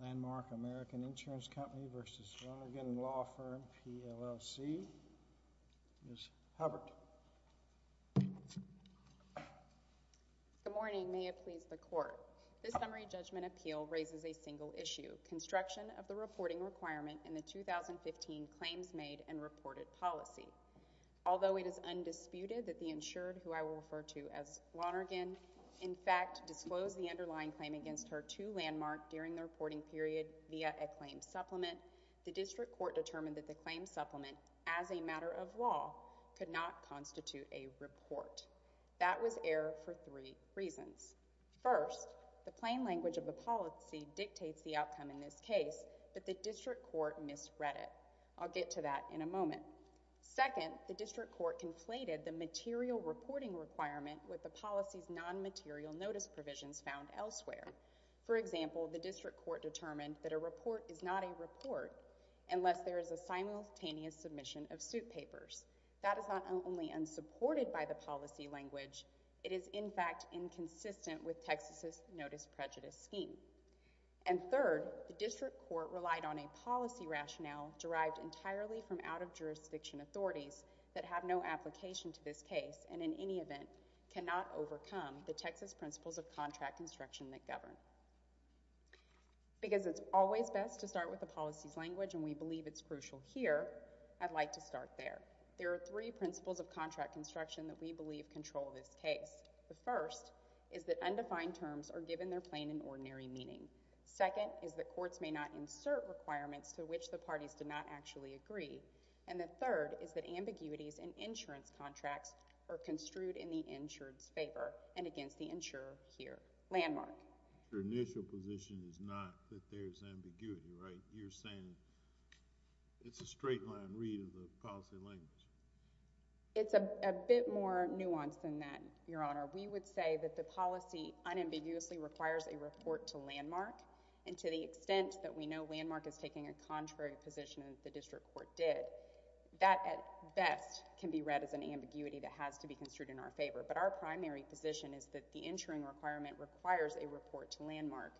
P. L. L. C. Ms. Hubbard. Good morning. May it please the Court. This Summary Judgment Appeal raises a single issue, construction of the reporting requirement in the 2015 Claims Made and Reported Policy. Although it is undisputed that the insured, who I will refer to as Lonergan, in fact, disclosed the underlying claim against her to Landmark during the reporting period via a claim supplement, the District Court determined that the claim supplement, as a matter of law, could not constitute a report. That was error for three reasons. First, the plain language of the policy dictates the outcome in this case, but the District Court misread it. I'll get to that in a moment. Second, the District Court conflated the material reporting requirement with the policy's non-material notice provisions found elsewhere. For example, the District Court determined that a report is not a report unless there is a simultaneous submission of suit papers. That is not only unsupported by the policy language, it is, in fact, inconsistent with Texas' Notice Prejudice Scheme. And third, the District Court relied on a policy rationale derived entirely from out-of-jurisdiction authorities that have no application to this case and, in any event, cannot overcome the Texas principles of contract construction that govern. Because it's always best to start with the policy's language, and we believe it's crucial here, I'd like to start there. There are three principles of contract construction that we believe control this case. The first is that undefined terms are given their plain and ordinary meaning. Second is that courts may not insert requirements to which the parties do not actually agree. And the third is that ambiguities in insurance contracts are construed in the insured's favor and against the insurer here. Landmark. Your initial position is not that there's ambiguity, right? You're saying it's a straight-line read of the policy language. It's a bit more nuanced than that, Your Honor. We would say that the policy unambiguously requires a report to landmark, and to the extent that we know landmark is taking a contrary position as the District Court did, that, at best, can be read as an ambiguity that has to be construed in our favor. But our primary position is that the insuring requirement requires a report to landmark,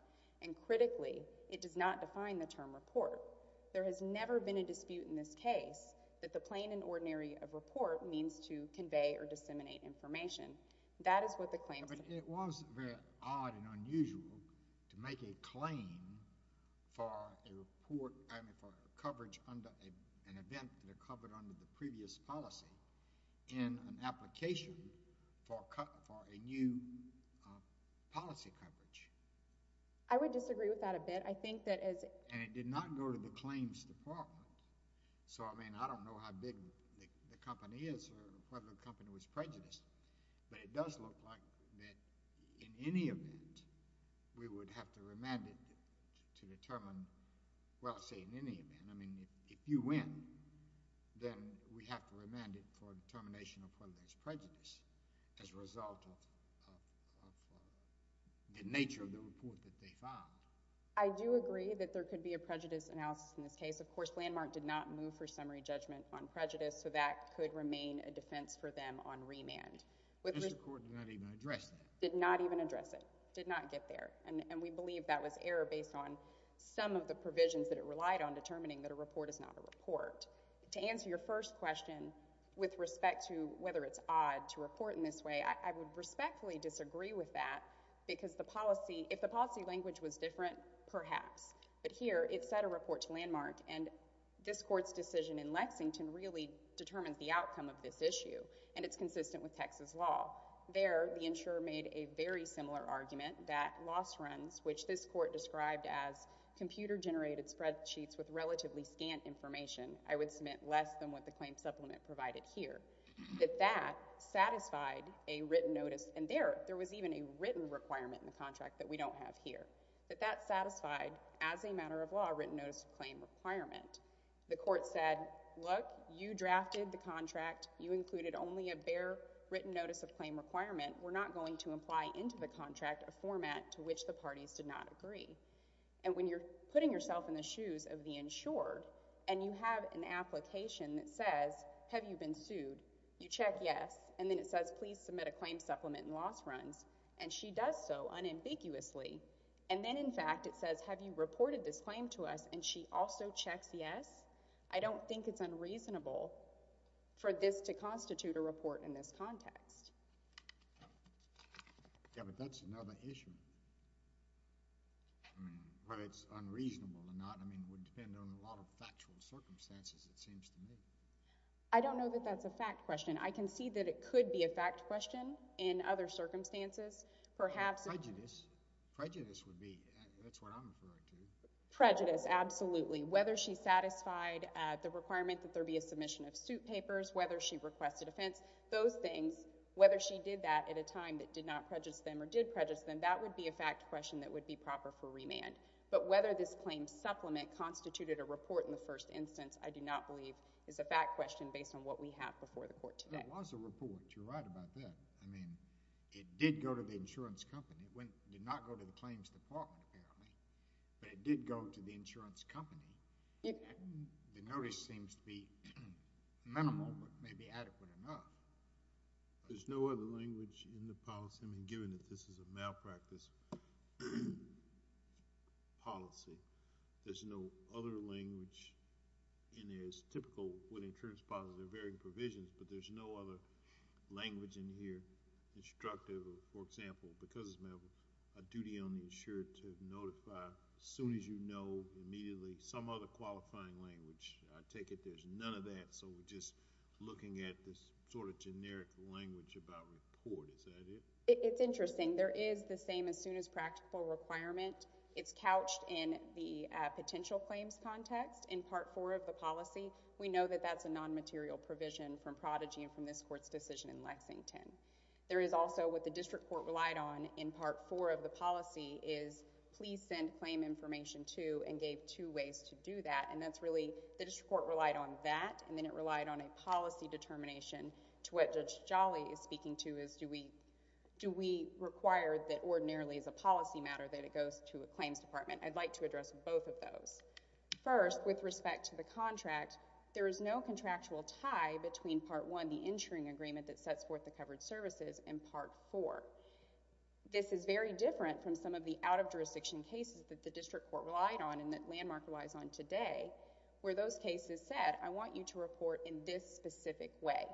and critically, it does not define the term report. There has never been a dispute in this case that the plain and ordinary of report means to convey or disseminate information. That is what the claim says. It was very odd and unusual to make a claim for a report, I mean, for coverage under an event that had been covered under the previous policy in an application for a new policy coverage. I would disagree with that a bit. I think that as— And it did not go to the claims department. So, I mean, I don't know how big the company is or whether the company was prejudiced, but it does look like that in any event, we would have to remand it to determine—well, I say in any event. I mean, if you win, then we have to remand it for determination of whether there's prejudice as a result of the nature of the report that they found. I do agree that there could be a prejudice analysis in this case. Of course, landmark did not move for summary judgment on prejudice, so that could remain a defense for them on remand. But the court did not even address that. Did not even address it. Did not get there. And we believe that was error based on some of the provisions that it relied on determining that a report is not a report. To answer your first question with respect to whether it's odd to report in this way, I would respectfully disagree with that because the policy—if the policy language was different, perhaps. But here, it set a report to landmark, and this court's decision in Lexington really determined the outcome of this issue, and it's consistent with Texas law. There, the insurer made a very similar argument that loss runs, which this court described as computer-generated spreadsheets with relatively scant information—I would submit less than what the claim supplement provided here—that that satisfied a written notice. And there, there was even a written requirement in the contract that we don't have here. But that satisfied, as a matter of law, a written notice of claim requirement. The court said, look, you drafted the contract. You included only a bare written notice of claim requirement. We're not going to apply into the contract a format to which the parties did not agree. And when you're putting yourself in the shoes of the insurer, and you have an application that says, have you been sued? You check yes, and then it says, please submit a claim supplement in loss runs. And she does so unambiguously. And then, in fact, it says, have you reported this claim to us? And she also checks yes. I don't think it's unreasonable for this to constitute a report in this context. Yeah, but that's another issue. I mean, whether it's unreasonable or not, I mean, would depend on a lot of factual circumstances, it seems to me. I don't know that that's a fact question. I can see that it could be a fact question in other circumstances. Prejudice would be, that's what I'm referring to. Prejudice, absolutely. Whether she satisfied the requirement that there be a submission of suit papers, whether she requested offense, those things, whether she did that at a time that did not prejudice them or did prejudice them, that would be a fact question that would be proper for remand. But whether this claim supplement constituted a report in the first instance, I do not believe is a fact question based on what we have before the court today. It was a report. You're right about that. I mean, it did go to the insurance company. It did not go to the claims department, apparently. But it did go to the insurance company. The notice seems to be minimal, but maybe adequate enough. There's no other language in the policy. I mean, given that this is a malpractice policy, there's no other language in there. It's typical when insurance policies are varying provisions, but there's no other language in here. Instructive, for example, because it's a duty on the insurer to notify as soon as you know immediately. Some other qualifying language. I take it there's none of that. So we're just looking at this sort of generic language about report. Is that it? It's interesting. There is the same as soon as practical requirement. It's couched in the potential claims context in Part 4 of the policy. We know that that's a non-material provision from Prodigy and from this court's decision in Lexington. There is also what the district court relied on in Part 4 of the policy is please send claim information to and gave two ways to do that. The district court relied on that and then it relied on a policy determination to what Judge Jolly is speaking to is do we require that ordinarily as a policy matter that it goes to a claims department? I'd like to address both of those. First, with respect to the contract, there is no contractual tie between Part 1, the insuring agreement that sets forth the covered services, and Part 4. This is very different from some of the out-of-jurisdiction cases that the district court relied on and that Landmark relies on today where those cases said, I want you to report in this specific way.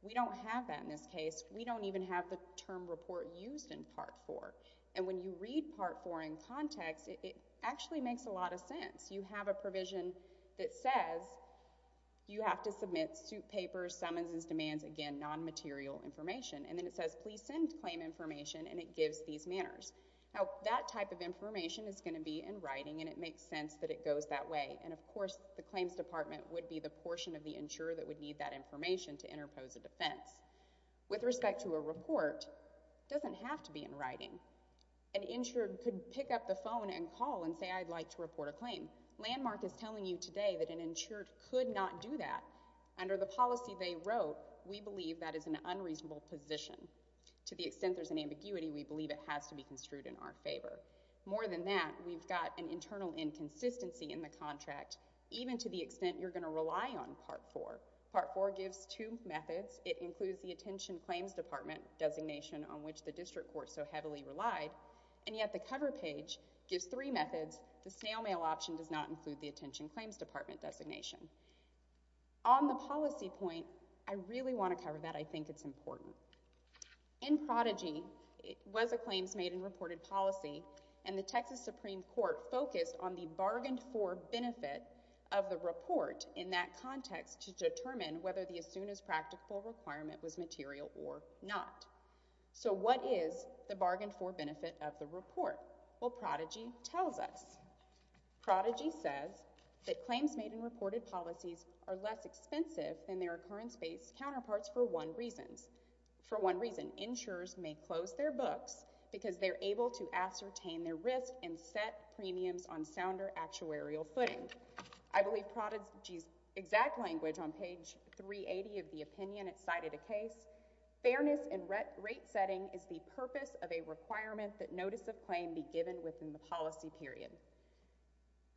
We don't have that in this case. We don't even have the term report used in Part 4. When you read Part 4 in context, it actually makes a lot of sense. You have a provision that says you have to submit suit papers, summonses, demands, again, non-material information. Then it says, please send claim information and it gives these manners. That type of information is going to be in writing and it makes sense that it goes that way. Of course, the claims department would be the portion of the insurer that would need that information to interpose a defense. With respect to a report, it doesn't have to be in writing. An insured could pick up the phone and call and say, I'd like to report a claim. Landmark is telling you today that an insured could not do that. Under the policy they wrote, we believe that is an unreasonable position. To the extent there's an ambiguity, we believe it has to be construed in our favor. More than that, we've got an internal inconsistency in the contract even to the extent you're going to rely on Part 4. Part 4 gives two methods. It includes the attention claims department designation on which the district court so heavily relied, and yet the cover page gives three methods. The snail mail option does not include the attention claims department designation. On the policy point, I really want to cover that. I think it's important. In Prodigy, it was a claims made and reported policy, and the Texas Supreme Court focused on the bargained for benefit of the report in that context to determine whether the as soon as practical requirement was material or not. So what is the bargained for benefit of the report? Well, Prodigy tells us. Prodigy says that claims made and reported policies are less expensive than their occurrence-based counterparts for one reason. For one reason, insurers may close their books because they're able to ascertain their risk and set premiums on sounder actuarial footing. I believe Prodigy's exact language on page 380 of the opinion cited a case. Fairness in rate setting is the purpose of a requirement that notice of claim be given within the policy period.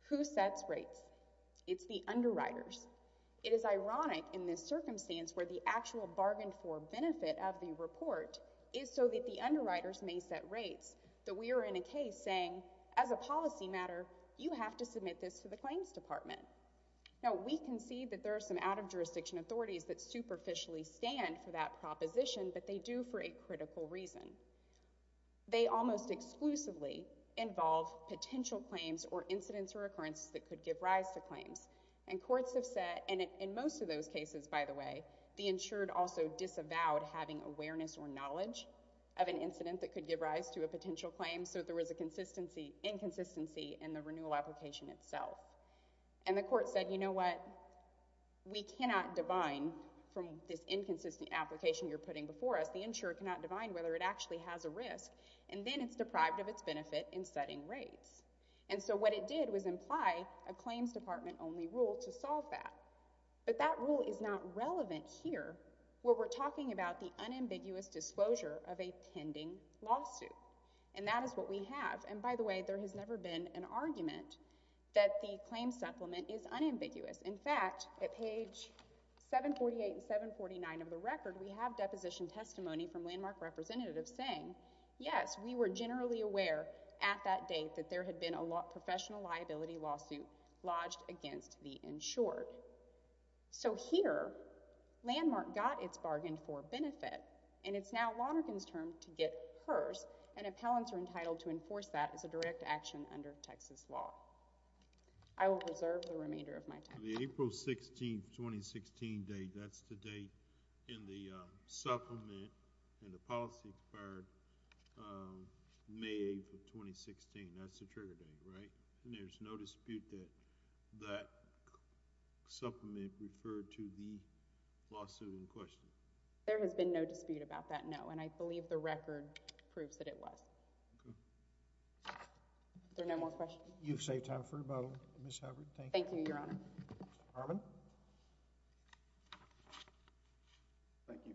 Who sets rates? It's the underwriters. It is ironic in this circumstance where the actual bargained for benefit of the report is so that the underwriters may set rates that we are in a case saying, as a policy matter, you have to submit this to the claims department. Now, we can see that there are some out-of-jurisdiction authorities that superficially stand for that proposition, but they do for a critical reason. They almost exclusively involve potential claims or incidents or occurrences that could give rise to claims. And courts have said, and in most of those cases, by the way, the insured also disavowed having awareness or knowledge of an incident that could give rise to a potential claim, so there was inconsistency in the renewal application itself. And the court said, you know what? We cannot divine from this inconsistent application you're putting before us, the insured cannot divine whether it actually has a risk, and then it's deprived of its benefit in setting rates. And so what it did was imply a claims department only rule to solve that. But that rule is not relevant here where we're talking about the unambiguous disclosure of a pending lawsuit. And that is what we have. And by the way, there has never been an argument that the claim supplement is unambiguous. In fact, at page 748 and 749 of the record, we have deposition testimony from Landmark representatives saying, yes, we were generally aware at that date that there had been a professional liability lawsuit lodged against the insured. So here, Landmark got its bargain for benefit, and it's now Lonergan's turn to get hers, and appellants are entitled to enforce that as a direct action under Texas law. I will reserve the remainder of my time. The April 16, 2016 date, that's the date in the supplement and the policy for May 8, 2016. That's the trigger date, right? There's no dispute that supplement referred to the lawsuit in question. There has been no dispute about that, no. And I believe the record proves that it was. Are there no more questions? You've saved time for a moment, Ms. Hubbard. Thank you, Your Honor. Mr. Harmon? Thank you.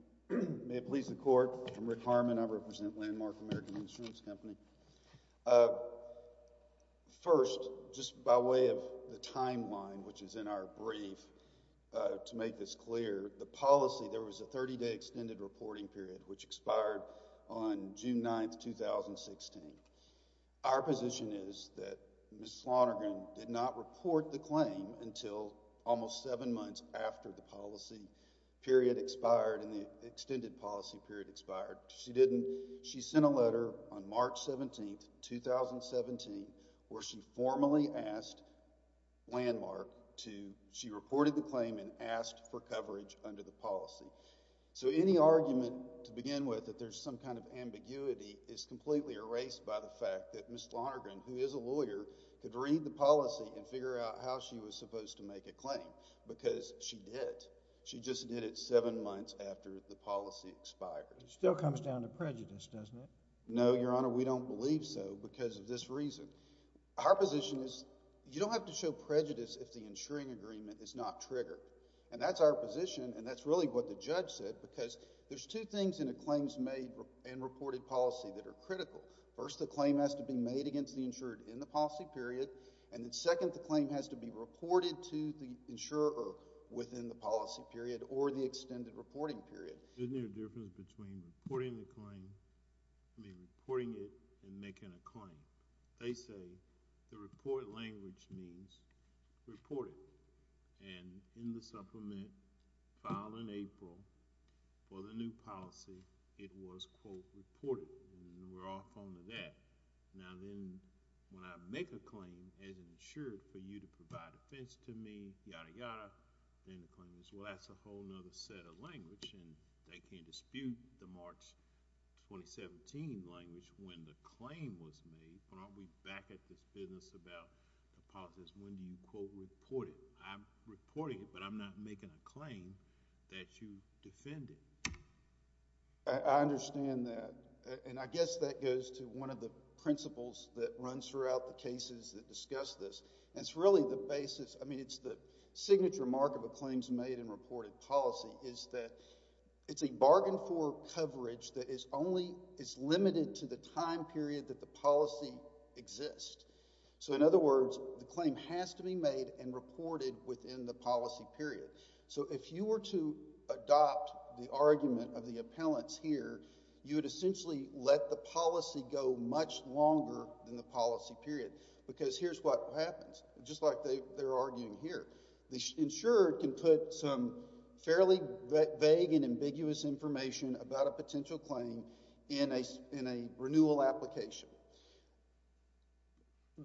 May it please the Court, I'm Rick Harmon. I represent Landmark American Insurance Company. First, just by way of the timeline, which is in our brief, to make this clear, the policy, there was a 30-day extended reporting period, which expired on June 9, 2016. Our position is that Ms. Lonergan did not report the claim until almost seven months after the policy period expired and the extended policy period expired. She didn't. She sent a letter on March 17, 2017 where she formally asked Landmark to she reported the claim and asked for coverage under the policy. So any argument to begin with that there's some kind of ambiguity is completely erased by the fact that Ms. Lonergan, who is a lawyer, could read the policy and figure out how she was supposed to make a claim because she did. She just did it seven months after the policy expired. It still comes down to prejudice, doesn't it? No, Your Honor, we don't believe so because of this reason. Our position is you don't have to show prejudice if the insuring agreement is not triggered and that's our position and that's really what the judge said because there's two things in a claims made and reported policy that are critical. First, the claim has to be made against the insured in the policy period and then second, the claim has to be reported to the insurer within the policy period or the extended reporting period. Isn't there a difference between reporting the claim I mean reporting it and making a claim? They say the report language means report it and in the supplement filed in April for the new policy, it was quote reported and we're all fond of that. Now then when I make a claim as insured for you to provide defense to me, yada yada, then the claim is well that's a whole other set of language and they can't dispute the March 2017 language when the claim was made but aren't we back at this business about the policies when you quote report it. I'm reporting it but I'm not making a claim that you defended. I understand that and I guess that goes to one of the principles that runs throughout the cases that discuss this and it's really the basis, I mean it's the signature mark of a claims made and reported policy is that it's a bargain for coverage that is only it's limited to the time period that the policy exists. So in other words, the claim has to be made and reported within the policy period. So if you were to adopt the argument of the appellants here you would essentially let the policy go much longer than the policy period because here's what happens. Just like they're arguing here. The insurer can put some fairly vague and ambiguous information about a potential claim in a renewal application.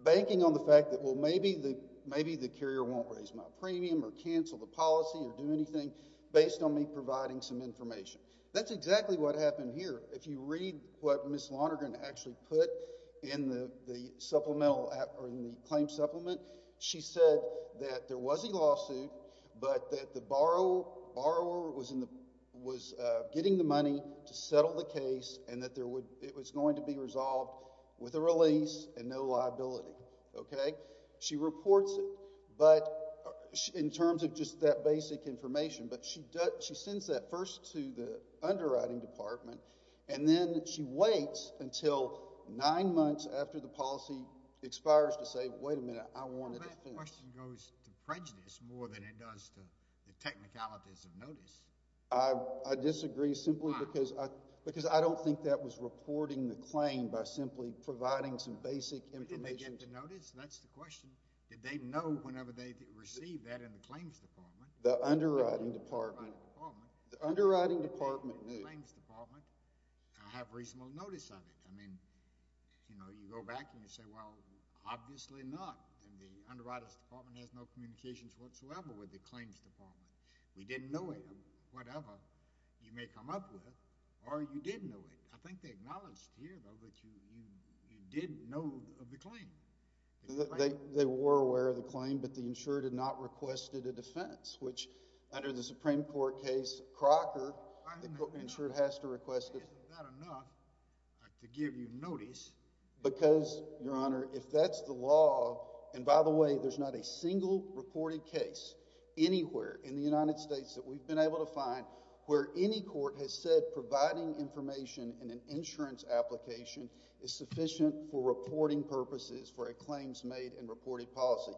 Banking on the fact that well maybe the carrier won't raise my premium or cancel the policy or do anything based on me providing some information. That's exactly what happened here. If you read what Ms. Lonergan actually put in the supplemental or in the claim supplement, she said that there was a lawsuit but that the borrower was getting the money to settle the case and that it was going to be resolved with a release and no liability. Okay? She reports it but in terms of just that basic information but she sends that first to the underwriting department and then she waits until nine months after the policy expires to say wait a minute, I want it to finish. That question goes to prejudice more than it does to the technicalities of notice. I disagree simply because I don't think that was reporting the claim by simply providing some basic information. Did they get the notice? That's the question. Did they know whenever they received that in the claims department? The underwriting department knew. I have reasonable notice of it. I mean, you know, you go back and you say well obviously not and the underwriting department has no communications whatsoever with the claims department. We didn't know it. Whatever you may come up with or you did know it. I think they acknowledged here though that you did know of the claim. They were aware of the claim but the insured had not requested a defense which under the Supreme Court case Crocker the insured has to request Is that enough to give you notice? Because your honor, if that's the law and by the way, there's not a single reported case anywhere in the United States that we've been able to find where any court has said providing information in an insurance application is sufficient for reporting purposes for a claims made and reported policy.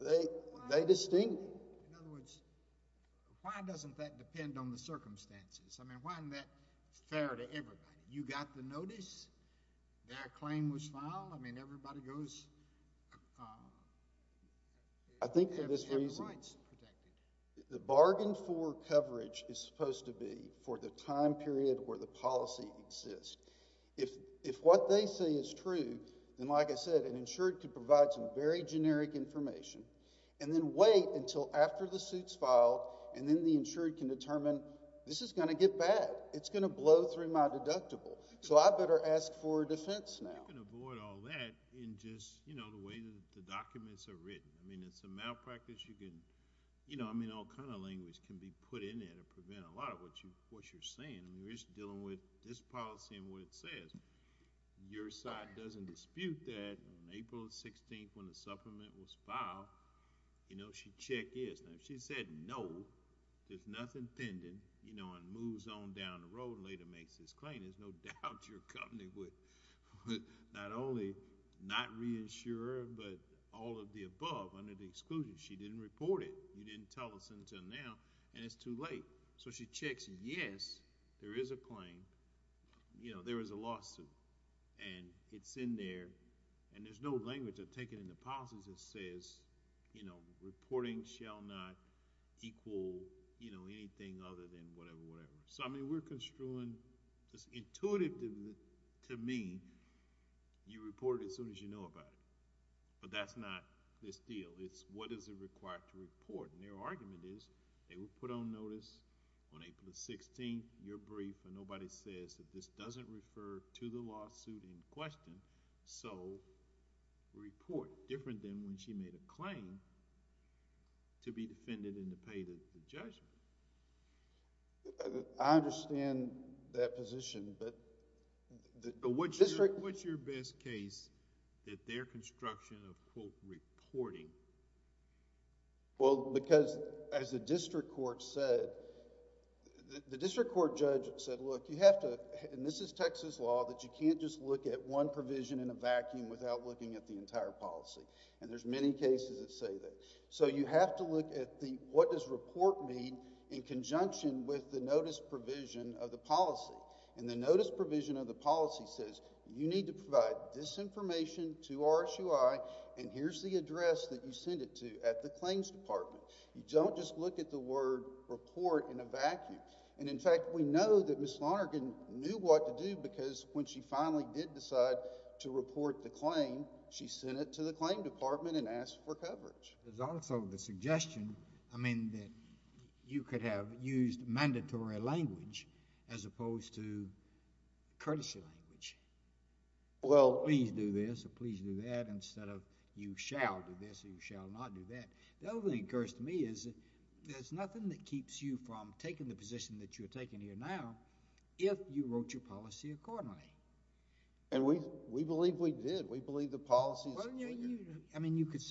They distinguish. In other words, why doesn't that depend on the circumstances? I mean, why isn't that fair to everybody? You got the notice their claim was filed I mean everybody goes I think for this reason the bargain for coverage is supposed to be for the time period where the policy exists If what they say is true, then like I said an insured can provide some very generic information and then wait until after the suit's filed and then the insured can determine this is going to get bad. It's going to blow through my deductible. So I better ask for a defense now. You can avoid all that in just the way the documents are written. It's a malpractice. All kind of language can be put in there to prevent a lot of what you're saying. We're just dealing with this policy and what it says. Your side doesn't dispute that on April 16th when the supplement was filed you know, she checked in. If she said no there's nothing pending and moves on down the road and later makes this claim. There's no doubt your company would not only not reassure her but all of the above under the exclusion she didn't report it. You didn't tell us until now and it's too late. So she checks. Yes, there is a claim. There is a lawsuit and it's in there and there's no language taken in the policies that says reporting shall not equal anything other than whatever. So I mean we're construing it's intuitive to me you report it as soon as you know about it. But that's not this deal. What is it required to report? Their argument is they would put on notice on April 16th your brief and nobody says that this doesn't refer to the lawsuit in question so report. Different than when she made a claim to be defended and to pay the judgment. I understand that position but What's your best case that their construction of quote reporting Well because as the district court said the district court judge said look you have to and this is Texas law that you can't just look at one provision in a vacuum without looking at the entire policy and there's many cases that say that. So you have to look at the what does report mean in conjunction with the notice provision of the policy and the notice provision of the policy says you need to provide this information to RSUI and here's the address that you send it to at the claims department. You don't just look at the word report in a vacuum and in fact we know that Ms. Lonergan knew what to do because when she finally did decide to report the claim she sent it to the claim department and asked for coverage. There's also the suggestion I mean that you could have used mandatory language as opposed to courtesy language Well please do this or please do that instead of you shall do this or you shall not do that The other thing that occurs to me is there's nothing that keeps you from taking the position that you're taking here now if you wrote your policy accordingly And we believe we did. We believe the policy I mean you could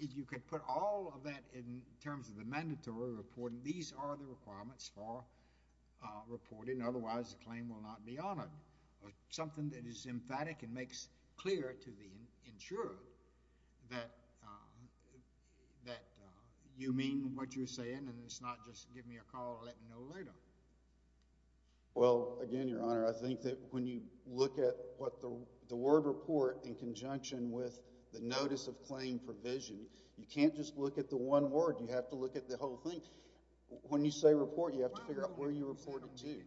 you could put all of that in terms of the mandatory reporting these are the requirements for reporting otherwise the claim will not be honored. Something that is emphatic and makes clear to the insurer that that you mean what you're saying and it's not just give me a call or let me know later Well again your honor I think that when you look at what the word report in conjunction with the notice of claim provision you can't just look at the one word you have to look at the whole thing when you say report you have to figure out where you report it to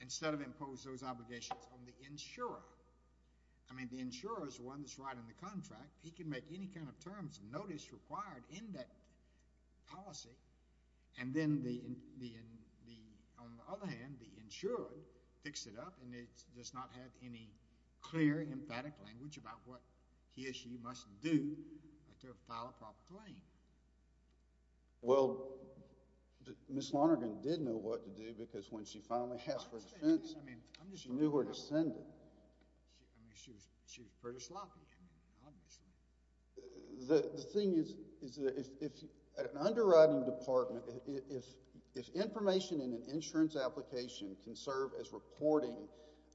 instead of impose those obligations on the insurer I mean the insurer is the one that's writing the contract he can make any kind of terms notice required in that policy and then the on the other hand the insurer picks it up and it does not have any clear emphatic language about what he or she must do to file a proper claim Well Ms. Lonergan did know what to do because when she finally asked for defense she knew where to send it She was pretty sloppy The thing is is that if an underwriting department if information in an insurance application can serve as reporting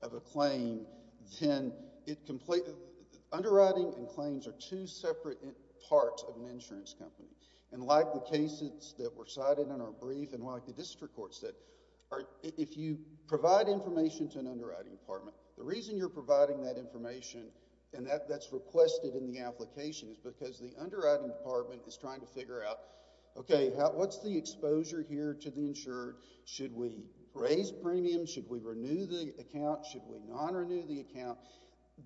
of a claim then underwriting and claims are two separate parts of an insurance company and like the cases that were cited in our brief and like the district court said if you provide information to an underwriting department the reason you're providing that information and that's requested in the application is because the underwriting department is trying to figure out okay what's the exposure here to the insurer should we raise premium should we renew the account should we not renew the account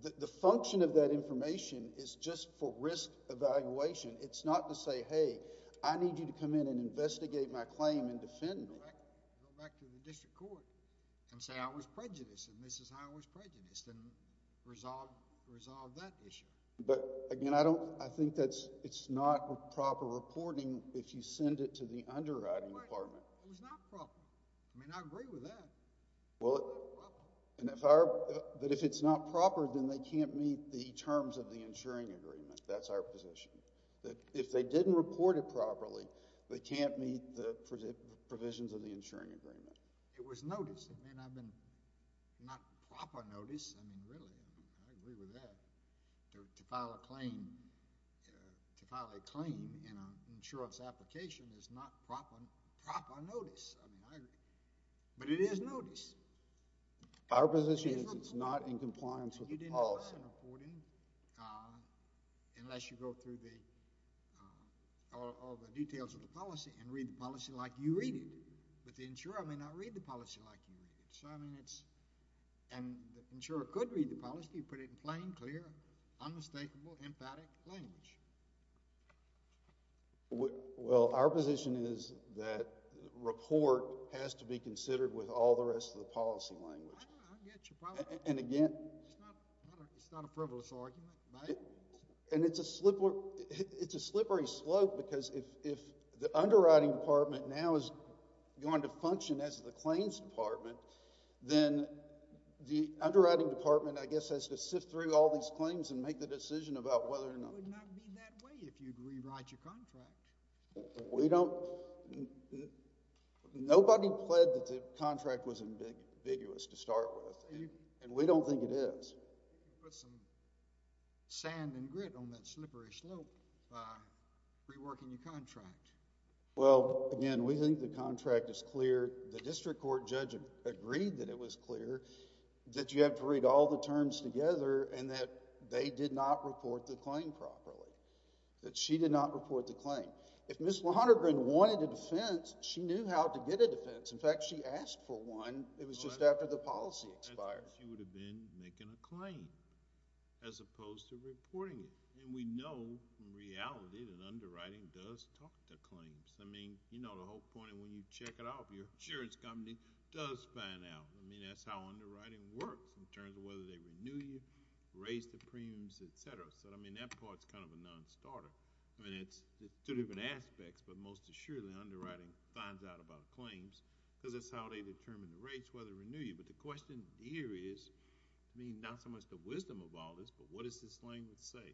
the function of that information is just for risk evaluation it's not to say hey I need you to come in and investigate my claim and defend me Go back to the district court and say I was prejudiced and this is how I was prejudiced and resolve that issue I think that's not proper reporting if you send it to the underwriting department it was not proper I agree with that but if it's not proper then they can't meet the terms of the insuring agreement that's our position that if they didn't report it properly they can't meet the provisions of the insuring agreement it was notice not proper notice I mean really I agree with that to file a claim in an insurance application is not proper notice I mean I agree but it is notice our position is it's not in compliance with the policy unless you go through the all the details of the policy and read the policy like you read it but the insurer may not read the policy like you read it so I mean it's and the insurer could read the policy put it in plain clear unmistakable emphatic language well our position is that report has to be considered with all the rest of the policy language and again it's not a privilege argument and it's a slippery slope because if the underwriting department now is going to function as the claims department then the underwriting department I guess has to sift through all these claims and make the decision about whether or not it would not be that way if you rewrite your contract we don't nobody pledged that the contract was ambiguous to start with and we don't think it is put some sand and grit on that slippery slope by reworking your contract well again we think the contract is clear the district court judge agreed that it was clear that you have to read all the terms together and that they did not report the claim properly that she did not report the claim if Ms. Lonergan wanted a defense she knew how to get a defense in fact she asked for one it was just after the policy expired she would have been making a claim as opposed to reporting it and we know in reality that underwriting does talk to claims I mean you know the whole point when you check it off your insurance company does find out I mean that's how they renew you raise the premiums etc. so I mean that part's kind of a non-starter I mean it's two different aspects but most assuredly underwriting finds out about claims because that's how they determine the rates where they renew you but the question here is I mean not so much the wisdom of all this but what does this language say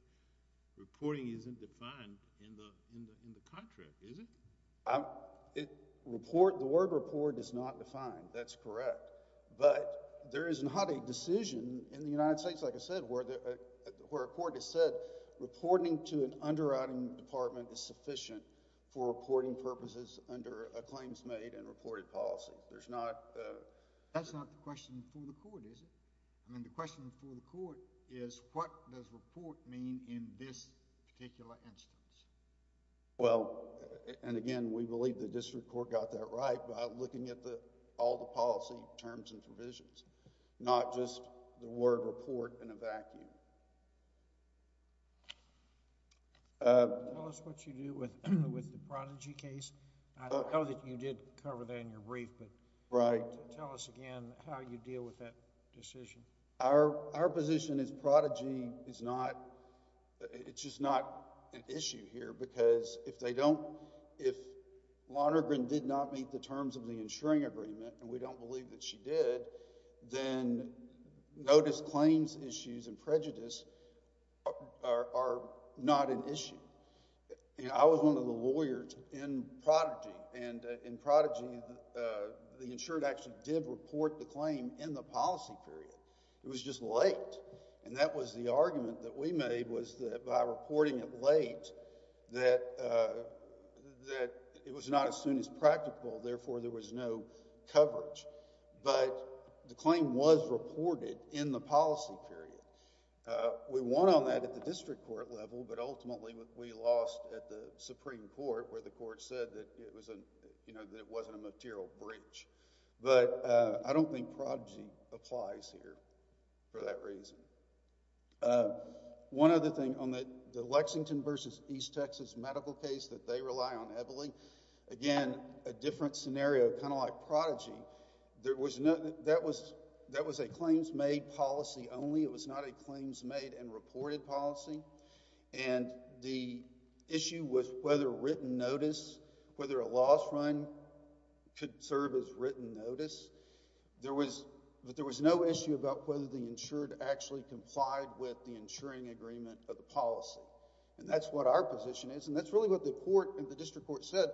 reporting isn't defined in the contract is it? the word report is not defined that's correct but there is not a decision in the United States like I said where a court has said reporting to an underwriting department is sufficient for reporting purposes under a claims made and reported policy that's not the question for the court is it? I mean the question for the court is what does report mean in this particular instance well and again we believe the district court got that right by looking at all the policy terms and provisions not just the word report in a vacuum tell us what you do with the Prodigy case I know that you did cover that in your brief but tell us again how you deal with that decision our position is Prodigy is not it's just not an issue here because if they don't if Lonergan did not meet the terms of the insuring agreement and we don't believe that she did then no disclaims issues and prejudice are not an issue I was one of the lawyers in Prodigy the insured actually did report the claim in the policy period it was just late and that was the argument that we made was that by reporting it late that that it was not as soon as practical therefore there was no coverage but the claim was reported in the policy period we won on that at the district court level but ultimately we lost at the supreme court where the court said that it wasn't a material breach but I don't think Prodigy applies here for that reason one other thing on the Lexington vs. East Texas medical case that they rely on heavily again a different scenario kind of like Prodigy there was no that was a claims made policy only it was not a claims made and reported policy and the issue was whether written notice whether a loss run could serve as written notice there was no issue about whether the insured actually complied with the insuring agreement of the policy and that's what our position is and that's what the district court said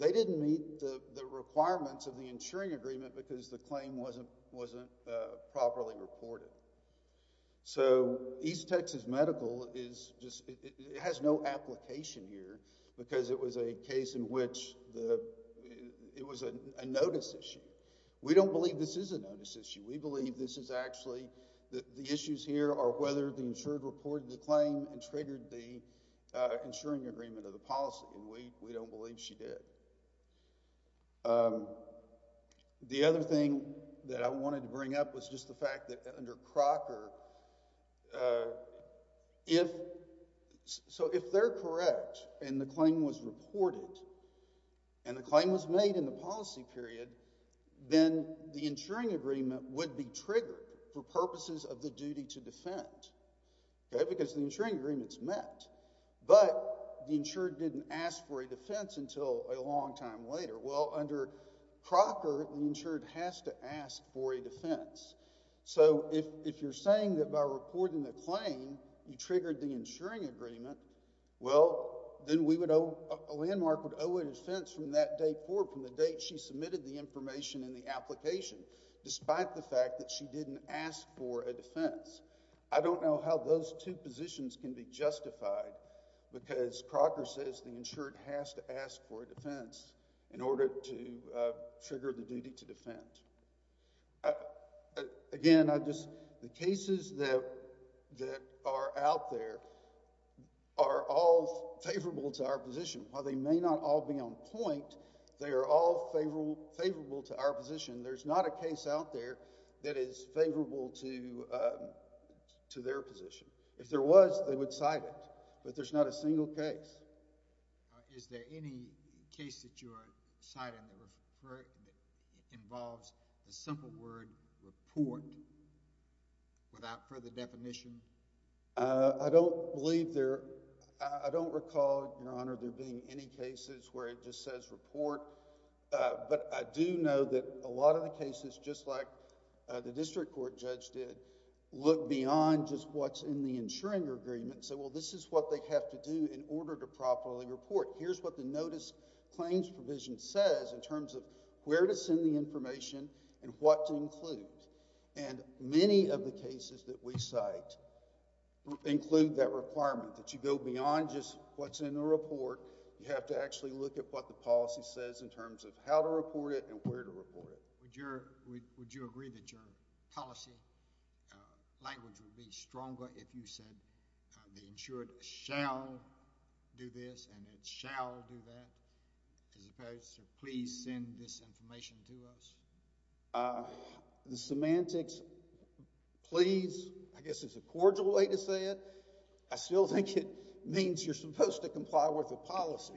they didn't meet the requirements of the insuring agreement because the claim wasn't properly reported so East Texas medical it has no application here because it was a case in which it was a notice issue we don't believe this is a notice issue we believe this is actually the issues here are whether the insured reported the claim and triggered the insuring agreement of the policy and we don't believe she did the other thing that I wanted to bring up was just the fact that under Crocker if so if they're correct and the claim was reported and the claim was made in the policy period then the insuring agreement would be triggered for purposes of the duty to defend because the insuring agreement is met but the insured didn't ask for a defense until a long time later well under Crocker the insured has to ask for a defense so if you're saying that by reporting the claim you triggered the insuring agreement well then we would a landmark would owe a defense from that day forward from the date she submitted the information in the application despite the fact that she didn't ask for a defense I don't know how those two positions can be justified because Crocker says the insured has to ask for a defense in order to trigger the duty to defend again I just the cases that are out there are all favorable to our position while they may not all be on point they are all favorable to our position there's not a case out there that is favorable to their position if there was they would cite it but there's not a single case is there any case that you are citing that involves the simple word report without further definition I don't believe I don't recall your honor there being any cases where it just says report but I do know that a lot of the cases just like the district court judge did look beyond just what's in the insuring agreement and say well this is what they have to do in order to properly report here's what the notice claims provision says in terms of where to send the information and what to include and many of the cases that we cite include that requirement that you go beyond just what's in the report you have to actually look at what the policy says in terms of how to report it and where to report it would you agree that your policy language would be stronger if you said the insured shall do this and it shall do that as opposed to please send this information to us the semantics please I guess it's a cordial way to say it I still think it means you're supposed to comply with the policy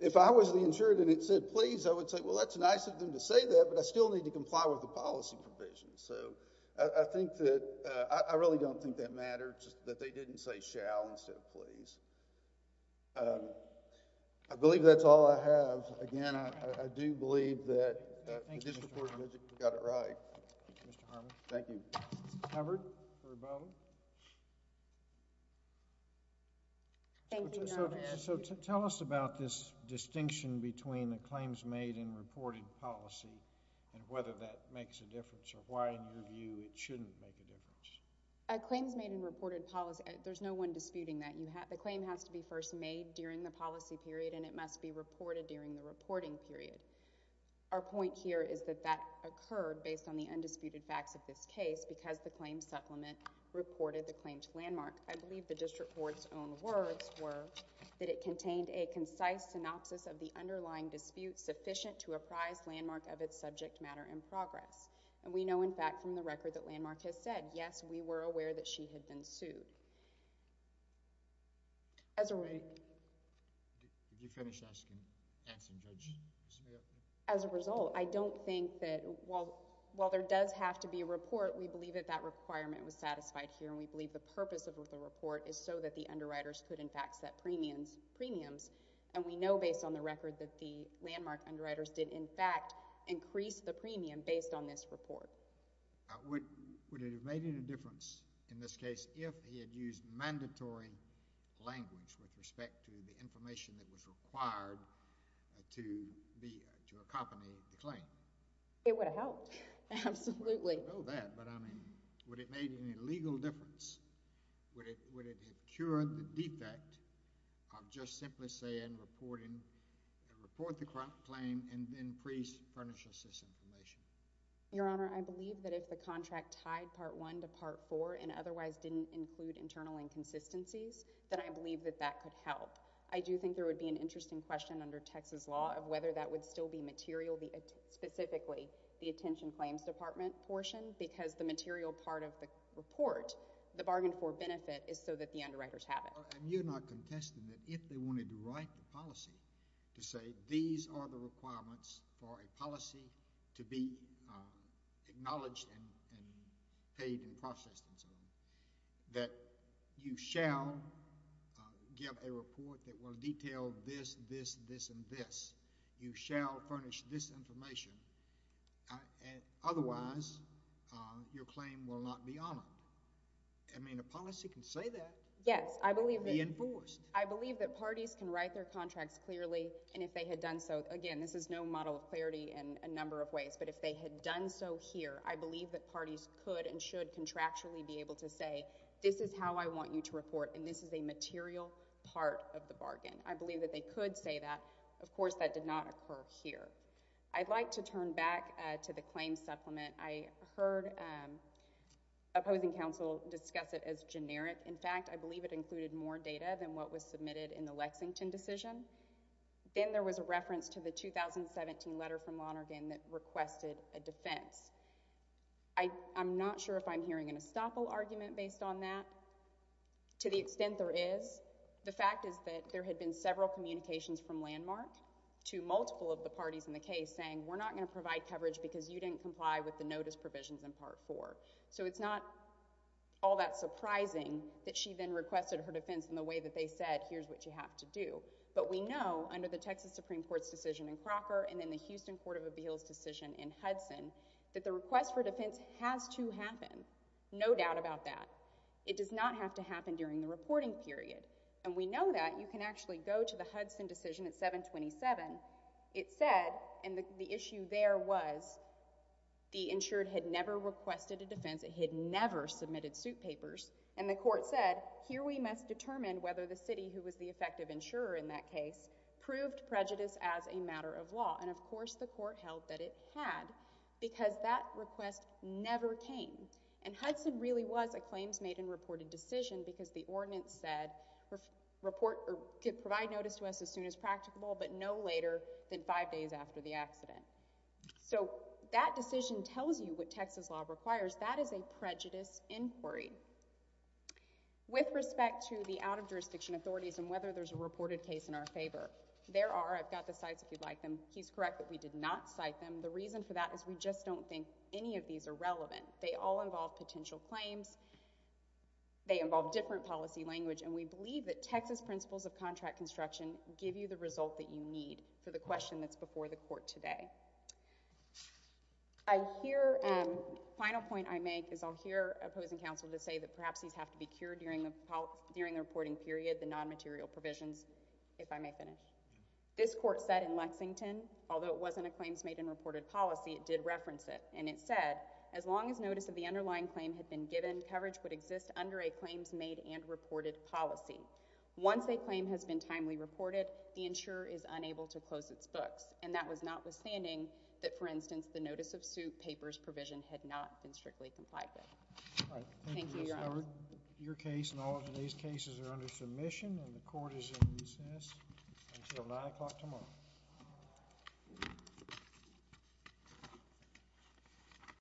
if I was the insured and it said please I would say well that's nice of them to say that but I still need to comply with the policy provision so I think that I really don't think that matters that they didn't say shall instead of please I believe that's all I have again I do believe that this report got it right thank you so tell us about this distinction between the claims made and reported policy and whether that makes a difference or why in your view it shouldn't make a difference claims made and reported policy there's no one disputing that the claim has to be first made during the policy period and it must be reported during the reporting period our point here is that that occurred based on the undisputed facts of this case because the claim supplement reported the claim to landmark I believe the district court's own words were that it contained a concise synopsis of the underlying dispute sufficient to apprise landmark of its subject matter in progress and we know in fact from the record that landmark has said yes we were aware that she had been sued as a result as a result I don't think that while there does have to be a report we believe that that requirement was satisfied here and we believe the purpose of the report is so that the underwriters could in fact set premiums and we know based on the record that the landmark underwriters did in fact increase the premium based on this report would it have made any difference in this case if he had used mandatory language with respect to the information that was required to accompany the claim? It would have helped absolutely would it have made any legal difference would it have cured the defect of just simply saying report the claim and then pre furnish us this information? Your honor I believe that if the contract tied part one to part four and otherwise didn't include internal inconsistencies then I believe that that could help. I do think there would be an interesting question under Texas law of whether that would still be material specifically the attention claims department portion because the material part of the report the bargain for benefit is so that the underwriters have it. And you're not contesting that if they wanted to write the policy to say these are the requirements for a policy to be acknowledged and paid and processed that you shall give a report that will detail this, this, this and this. You shall furnish this information and otherwise your claim will not be honored. I mean a policy can say that Yes I believe I believe that parties can write their contracts clearly and if they had done so again this is no model of clarity in a I believe that parties could and should contractually be able to say this is how I want you to report and this is a material part of the bargain. I believe that they could say that of course that did not occur here. I'd like to turn back to the claim supplement. I heard opposing counsel discuss it as generic. In fact I believe it included more data than what was submitted in the Lexington decision. Then there was a reference to the 2017 letter from Lonergan that I'm not sure if I'm hearing an estoppel argument based on that to the extent there is the fact is that there had been several communications from Landmark to multiple of the parties in the case saying we're not going to provide coverage because you didn't comply with the notice provisions in part 4. So it's not all that surprising that she then requested her defense in the way that they said here's what you have to do. But we know under the Texas Supreme Court's decision in Crocker and then the Houston Court of Appeals decision in Hudson that the request for defense has to happen. No doubt about that. It does not have to happen during the reporting period and we know that. You can actually go to the Hudson decision at 727 it said and the issue there was the insured had never requested a defense it had never submitted suit papers and the court said here we must determine whether the city who was the effective insurer in that case proved prejudice as a matter of law and of course the court held that it had because that request never came and Hudson really was a claims made and reported decision because the ordinance said provide notice to us as soon as practicable but no later than five days after the accident. So that decision tells you what Texas law requires. That is a prejudice inquiry. With respect to the out of jurisdiction authorities and whether there's a reported case in our favor There are. I've got the sites if you'd like them. He's correct that we did not cite them. The reason for that is we just don't think any of these are relevant. They all involve potential claims they involve different policy language and we believe that Texas principles of contract construction give you the result that you need for the question that's before the court today. I hear final point I make is I'll hear opposing counsel to say that perhaps these have to be cured during the reporting period I'm going to read the non-material provisions if I may finish This court said in Lexington although it wasn't a claims made and reported policy it did reference it and it said as long as notice of the underlying claim had been given coverage would exist under a claims made and reported policy once a claim has been timely reported the insurer is unable to close its books and that was notwithstanding that for instance the notice of suit papers provision had not been strictly complied with. Thank you. Your case and all of today's cases are under submission and the court is in recess until 9 o'clock tomorrow.